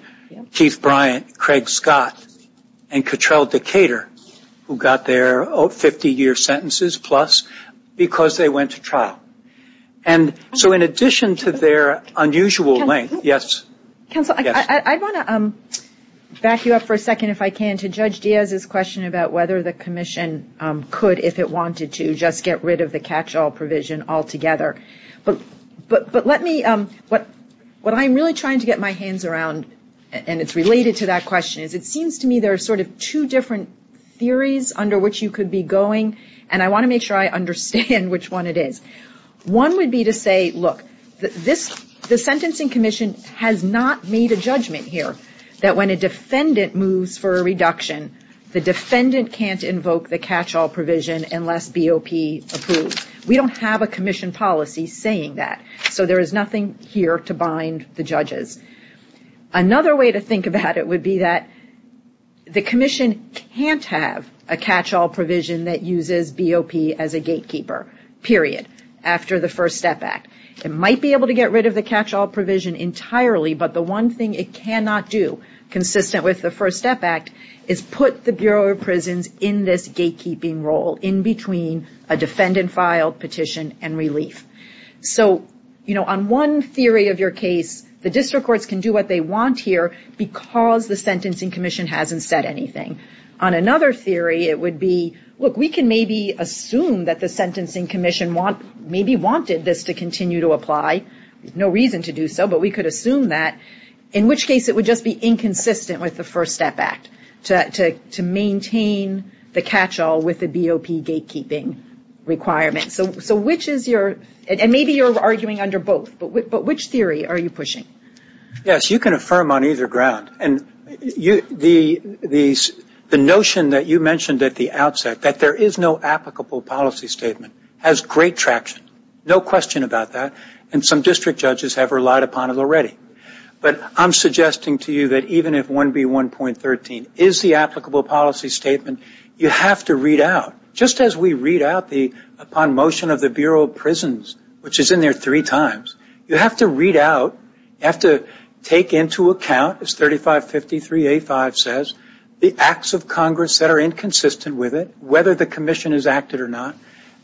Keith Bryant, Craig Scott, and Cottrell Decatur, who got their 50-year sentences plus because they went to trial. And so in addition to their unusual length, yes? Counsel, I want to back you up for a second if I can to Judge Diaz's question about whether the commission could, if it wanted to, just get rid of the catch-all provision altogether. But let me, what I'm really trying to get my hands around, and it's related to that question, is it seems to me there are sort of two different theories under which you could be going, and I want to make sure I understand which one it is. One would be to say, look, the Sentencing Commission has not made a judgment here that when a defendant moves for a reduction, the defendant can't invoke the catch-all provision unless BOP approves. We don't have a commission policy saying that. So there is nothing here to bind the judges. Another way to think about it would be that the commission can't have a catch-all provision that uses BOP as a gatekeeper, period, after the First Step Act. It might be able to get rid of the catch-all provision entirely, but the one thing it cannot do, consistent with the First Step Act, is put the Bureau of Prisons in this gatekeeping role in between a defendant filed petition and relief. So, you know, on one theory of your case, the district courts can do what they want here because the Sentencing Commission hasn't said anything. On another theory, it would be, look, we can maybe assume that the Sentencing Commission maybe wanted this to continue to apply. There's no reason to do so, but we could assume that, in which case it would just be inconsistent with the First Step Act to maintain the catch-all with the BOP gatekeeping requirements. So which is your, and maybe you're arguing under both, but which theory are you pushing? Yes, you can affirm on either ground. The notion that you mentioned at the outset, that there is no applicable policy statement, has great traction, no question about that, and some district judges have relied upon it already. But I'm suggesting to you that even if 1B1.13 is the applicable policy statement, you have to read out, just as we read out the upon motion of the Bureau of Prisons, which is in there three times, you have to read out, you have to take into account, as 3553A5 says, the acts of Congress that are inconsistent with it, whether the commission has acted or not,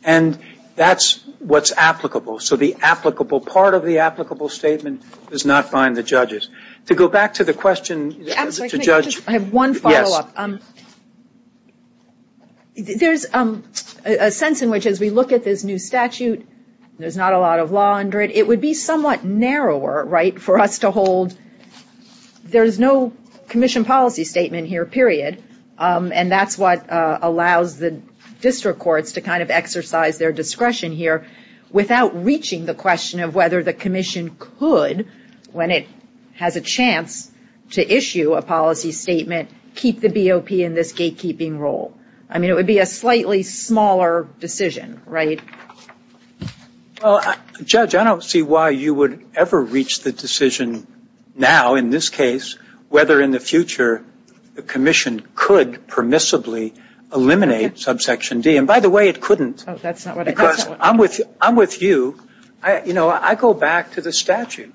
and that's what's applicable. So the applicable part of the applicable statement does not bind the judges. To go back to the question, Mr. Judge. I have one follow-up. There's a sense in which, as we look at this new statute, there's not a lot of law under it. It would be somewhat narrower for us to hold, there's no commission policy statement here, period. And that's what allows the district courts to kind of exercise their discretion here without reaching the question of whether the commission could, when it has a chance to issue a policy statement, keep the BOP in this gatekeeping role. I mean, it would be a slightly smaller decision, right? Well, Judge, I don't see why you would ever reach the decision now, in this case, whether in the future the commission could permissibly eliminate subsection D. And by the way, it couldn't. Oh, that's not what I meant. Because I'm with you. You know, I go back to the statute.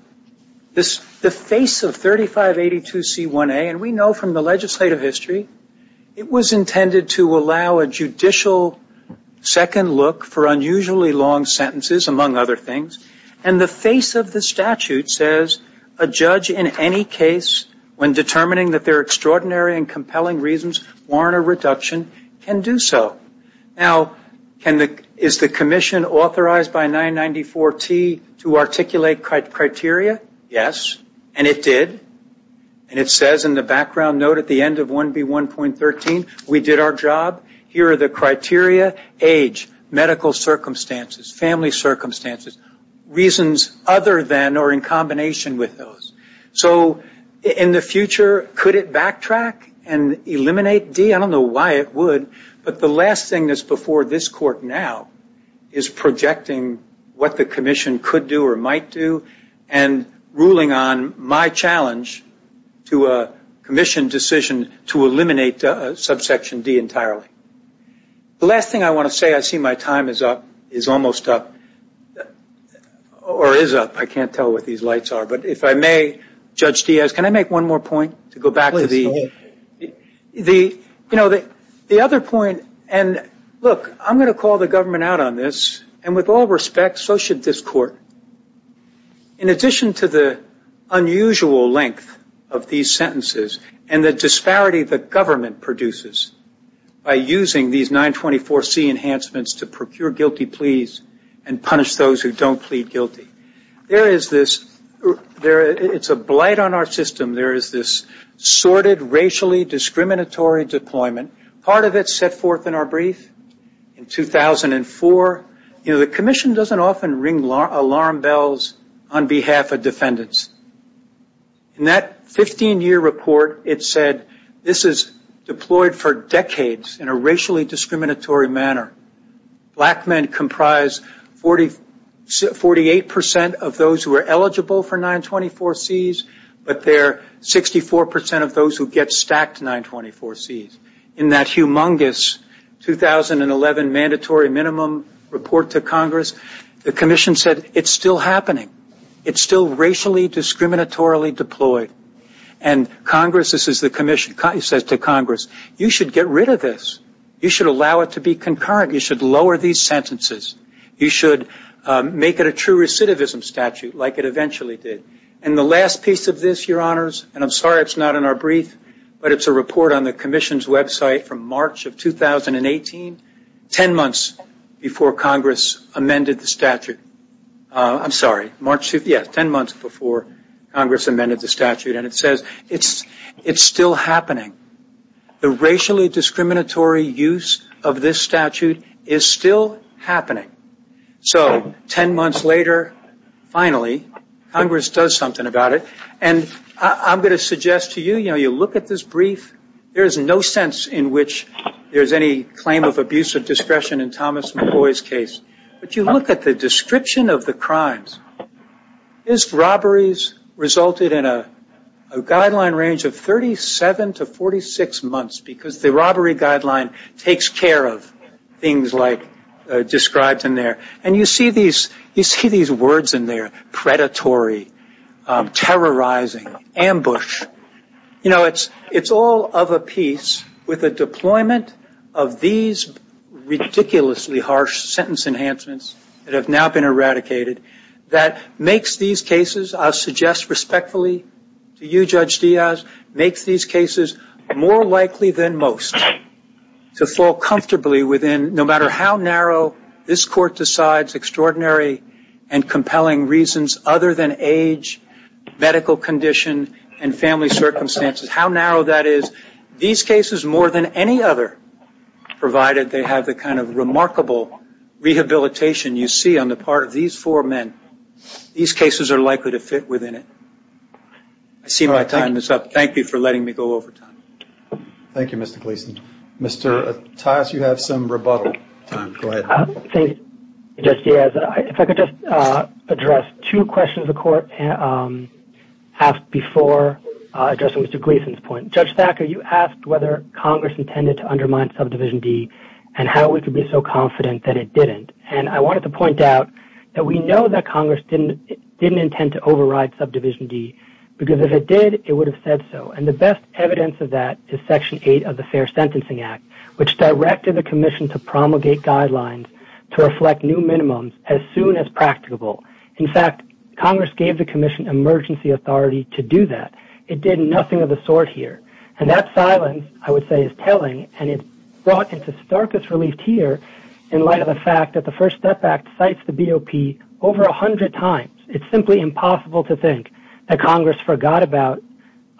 The face of 3582C1A, and we know from the legislative history, it was intended to allow a judicial second look for unusually long sentences, among other things. And the face of the statute says a judge in any case, when determining that there are extraordinary and compelling reasons warrant a reduction, can do so. Now, is the commission authorized by 994T to articulate criteria? Yes. And it did. And it says in the background note at the end of 1B1.13, we did our job. Here are the criteria, age, medical circumstances, family circumstances, reasons other than or in combination with those. So in the future, could it backtrack and eliminate D? I don't know why it would. But the last thing that's before this court now is projecting what the commission could do or might do and ruling on my challenge to a commission decision to eliminate subsection D entirely. The last thing I want to say, I see my time is up, is almost up, or is up. I can't tell what these lights are. But if I may, Judge Diaz, can I make one more point to go back to the other point? Look, I'm going to call the government out on this. And with all respect, so should this court, in addition to the unusual length of these sentences and the disparity the government produces by using these 924C enhancements to procure guilty pleas and punish those who don't plead guilty, there is this, it's a blight on our system, there is this sorted, racially discriminatory deployment. Part of it set forth in our brief in 2004. You know, the commission doesn't often ring alarm bells on behalf of defendants. In that 15-year report, it said this is deployed for decades in a racially discriminatory manner. Black men comprise 48% of those who are eligible for 924Cs, but they're 64% of those who get stacked 924Cs. In that humongous 2011 mandatory minimum report to Congress, the commission said it's still happening. It's still racially discriminatorily deployed. And Congress, this is the commission, says to Congress, you should get rid of this. You should allow it to be concurrent. You should lower these sentences. You should make it a true recidivism statute like it eventually did. And the last piece of this, Your Honors, and I'm sorry it's not in our brief, but it's a report on the commission's website from March of 2018, ten months before Congress amended the statute. I'm sorry, March, yes, ten months before Congress amended the statute. And it says it's still happening. The racially discriminatory use of this statute is still happening. So ten months later, finally, Congress does something about it. And I'm going to suggest to you, you know, you look at this brief, there is no sense in which there's any claim of abusive discretion in Thomas McCoy's case. But you look at the description of the crimes. His robberies resulted in a guideline range of 37 to 46 months because the robbery guideline takes care of things like described in there. And you see these words in there, predatory, terrorizing, ambush. You know, it's all of a piece with a deployment of these ridiculously harsh sentence enhancements that have now been eradicated that makes these cases, I'll suggest respectfully to you, Judge Diaz, makes these cases more likely than most to fall comfortably within, no matter how narrow this Court decides, extraordinary and compelling reasons other than age, medical condition, and family circumstances. How narrow that is, these cases more than any other, provided they have the kind of remarkable rehabilitation you see on the part of these four men. These cases are likely to fit within it. I see my time is up. Thank you for letting me go over time. Thank you, Mr. Gleeson. Mr. Attias, you have some rebuttal time. Go ahead. Thank you, Judge Diaz. If I could just address two questions the Court asked before addressing Mr. Gleeson's point. Judge Thacker, you asked whether Congress intended to undermine Subdivision D and how we could be so confident that it didn't. I wanted to point out that we know that Congress didn't intend to override Subdivision D because if it did, it would have said so. The best evidence of that is Section 8 of the Fair Sentencing Act, which directed the Commission to promulgate guidelines to reflect new minimums as soon as practicable. In fact, Congress gave the Commission emergency authority to do that. It did nothing of the sort here. That silence, I would say, is telling, and it's brought into starkest relief here in light of the fact that the First Step Act cites the BOP over 100 times. It's simply impossible to think that Congress forgot about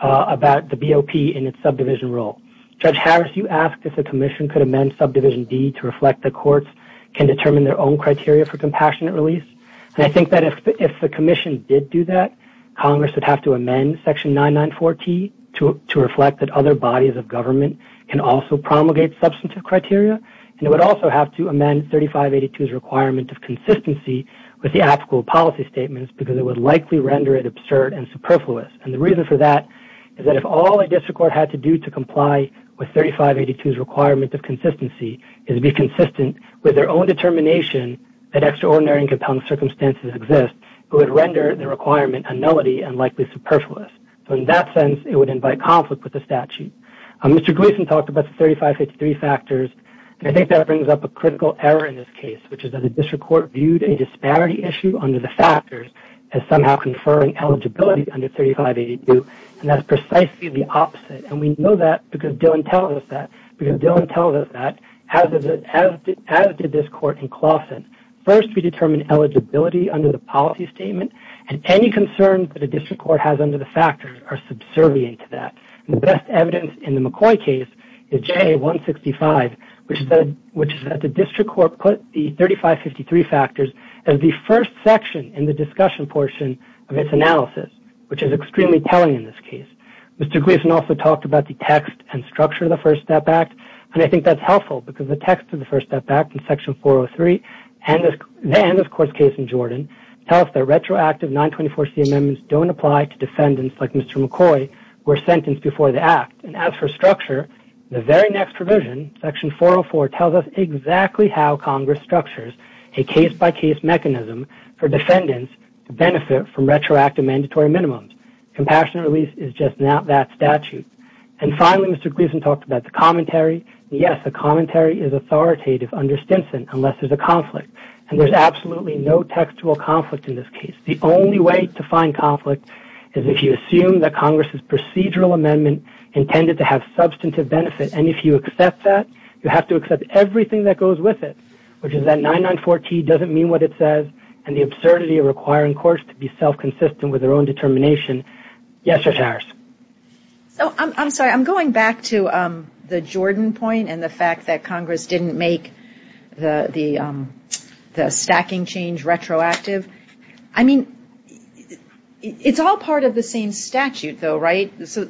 the BOP in its subdivision role. Judge Harris, you asked if the Commission could amend Subdivision D to reflect that courts can determine their own criteria for compassionate release. I think that if the Commission did do that, Congress would have to amend Section 994T to reflect that other bodies of government can also promulgate substantive criteria, and it would also have to amend 3582's requirement of consistency with the applicable policy statements because it would likely render it absurd and superfluous. And the reason for that is that if all a district court had to do to comply with 3582's requirement of consistency is to be consistent with their own determination that extraordinary and compelling circumstances exist, it would render the requirement a nullity and likely superfluous. So in that sense, it would invite conflict with the statute. Mr. Gleason talked about the 3583 factors, and I think that brings up a critical error in this case, which is that a district court viewed a disparity issue under the factors as somehow conferring eligibility under 3582, and that's precisely the opposite. And we know that because Dillon tells us that, because Dillon tells us that, as did this court in Clawson. First, we determine eligibility under the policy statement, and any concerns that a district court has under the factors are subservient to that. The best evidence in the McCoy case is JA165, which is that the district court put the 3553 factors as the first section in the discussion portion of its analysis, which is extremely telling in this case. Mr. Gleason also talked about the text and structure of the First Step Act, and I think that's helpful because the text of the First Step Act in Section 403 and this court's case in Jordan tell us that retroactive 924C amendments don't apply to defendants like Mr. McCoy who were sentenced before the act. And as for structure, the very next provision, Section 404, tells us exactly how Congress structures a case-by-case mechanism for defendants to benefit from retroactive mandatory minimums. Compassionate release is just not that statute. And finally, Mr. Gleason talked about the commentary. Yes, the commentary is authoritative under Stinson unless there's a conflict, and there's absolutely no textual conflict in this case. The only way to find conflict is if you assume that Congress's procedural amendment intended to have substantive benefit, and if you accept that, you have to accept everything that goes with it, which is that 994T doesn't mean what it says, and the absurdity of requiring courts to be self-consistent with their own determination. Yes, Judge Harris? So I'm sorry. I'm going back to the Jordan point and the fact that Congress didn't make the stacking change retroactive. I mean, it's all part of the same statute, though, right? So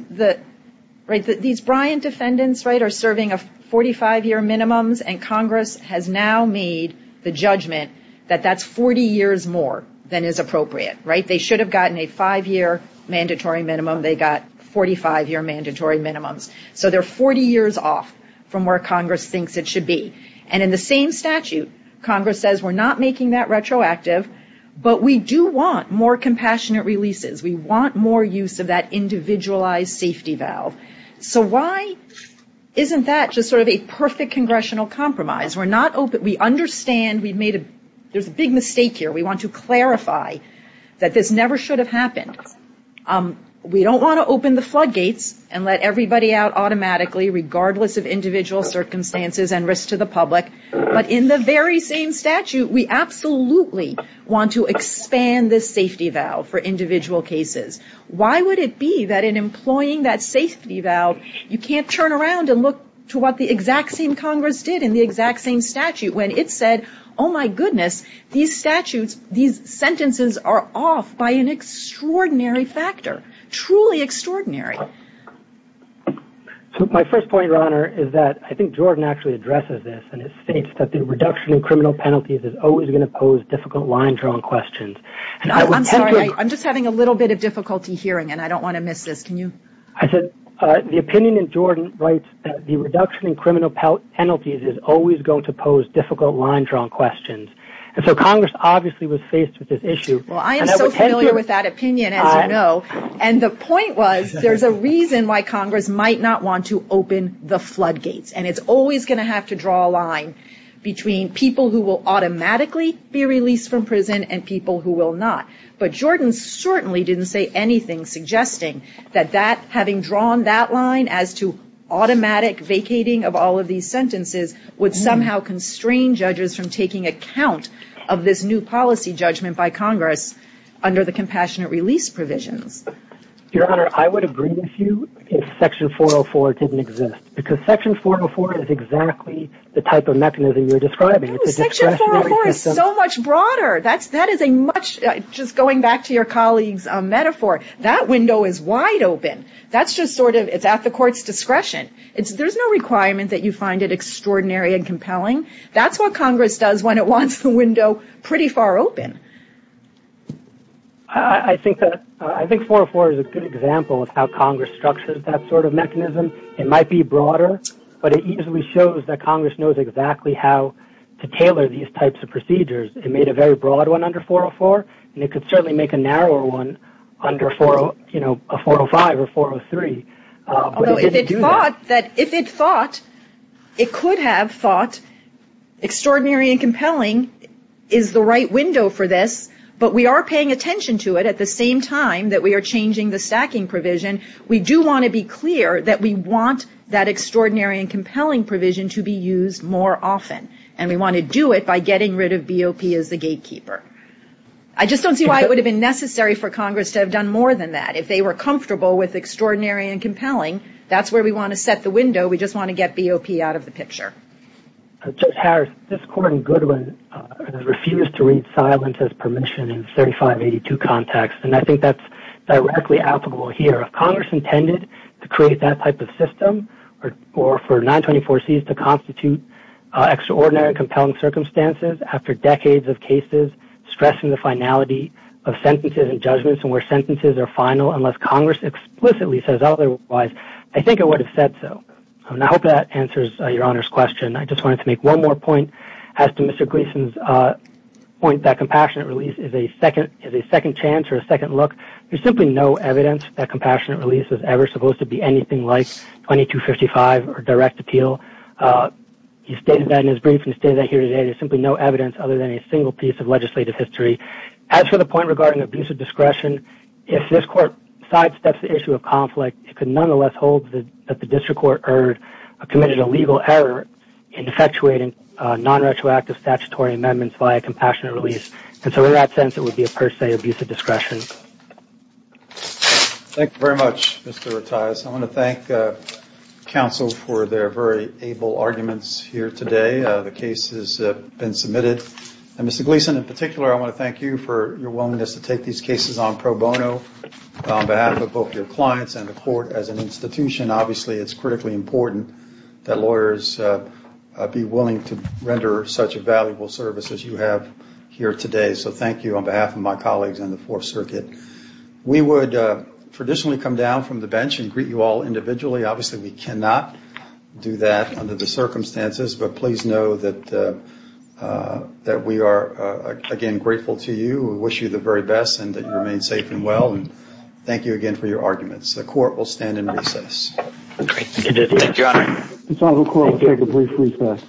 these Bryant defendants, right, are serving 45-year minimums, and Congress has now made the judgment that that's 40 years more than is appropriate, right? They should have gotten a five-year mandatory minimum. They got 45-year mandatory minimums. So they're 40 years off from where Congress thinks it should be. And in the same statute, Congress says we're not making that retroactive, but we do want more compassionate releases. We want more use of that individualized safety valve. So why isn't that just sort of a perfect congressional compromise? We're not open. We understand we've made a big mistake here. We want to clarify that this never should have happened. We don't want to open the floodgates and let everybody out automatically, regardless of individual circumstances and risk to the public. But in the very same statute, we absolutely want to expand this safety valve for individual cases. Why would it be that in employing that safety valve, you can't turn around and look to what the exact same Congress did in the exact same statute, when it said, oh, my goodness, these statutes, these sentences are off by an extraordinary factor, truly extraordinary. So my first point, Your Honor, is that I think Jordan actually addresses this, and it states that the reduction in criminal penalties is always going to pose difficult line-drawn questions. I'm sorry. I'm just having a little bit of difficulty hearing, and I don't want to miss this. Can you? I said the opinion in Jordan writes that the reduction in criminal penalties is always going to pose difficult line-drawn questions. And so Congress obviously was faced with this issue. Well, I am so familiar with that opinion, as you know, and the point was there's a reason why Congress might not want to open the floodgates, and it's always going to have to draw a line between people who will automatically be released from prison and people who will not. But Jordan certainly didn't say anything suggesting that that having drawn that line as to automatic vacating of all of these sentences would somehow constrain judges from taking account of this new policy judgment by Congress under the compassionate release provisions. Your Honor, I would agree with you if Section 404 didn't exist, because Section 404 is exactly the type of mechanism you're describing. Section 404 is so much broader. That is a much, just going back to your colleague's metaphor, that window is wide open. That's just sort of, it's at the court's discretion. There's no requirement that you find it extraordinary and compelling. That's what Congress does when it wants the window pretty far open. I think 404 is a good example of how Congress structures that sort of mechanism. It might be broader, but it easily shows that Congress knows exactly how to tailor these types of procedures and made a very broad one under 404, and it could certainly make a narrower one under, you know, a 405 or 403. But it didn't do that. If it thought, it could have thought extraordinary and compelling is the right window for this, but we are paying attention to it at the same time that we are changing the stacking provision. We do want to be clear that we want that extraordinary and compelling provision to be used more often, and we want to do it by getting rid of BOP as the gatekeeper. I just don't see why it would have been necessary for Congress to have done more than that. If they were comfortable with extraordinary and compelling, that's where we want to set the window. We just want to get BOP out of the picture. Judge Harris, this Court in Goodwin refused to read silence as permission in 3582 context, and I think that's directly applicable here. If Congress intended to create that type of system or for 924Cs to constitute extraordinary and compelling circumstances after decades of cases stressing the finality of sentences and judgments and where sentences are final unless Congress explicitly says otherwise, I think it would have said so. And I hope that answers Your Honor's question. I just wanted to make one more point as to Mr. Gleason's point that compassionate release is a second chance or a second look. There's simply no evidence that compassionate release is ever supposed to be anything like 2255 or direct appeal. He stated that in his brief, and he stated that here today. There's simply no evidence other than a single piece of legislative history. As for the point regarding abusive discretion, if this Court sidesteps the issue of conflict, it could nonetheless hold that the district court committed a legal error in effectuating nonretroactive statutory amendments via compassionate release. And so in that sense, it would be a per se abusive discretion. Thank you very much, Mr. Rattayas. I want to thank counsel for their very able arguments here today. The case has been submitted. And Mr. Gleason, in particular, I want to thank you for your willingness to take these cases on pro bono on behalf of both your clients and the Court as an institution. Obviously, it's critically important that lawyers be willing to render such a valuable service as you have here today. So thank you on behalf of my colleagues on the Fourth Circuit. We would traditionally come down from the bench and greet you all individually. Obviously, we cannot do that under the circumstances. But please know that we are, again, grateful to you. We wish you the very best and that you remain safe and well. And thank you again for your arguments. The Court will stand in recess. Thank you, Your Honor. This Honorable Court will take a brief recess.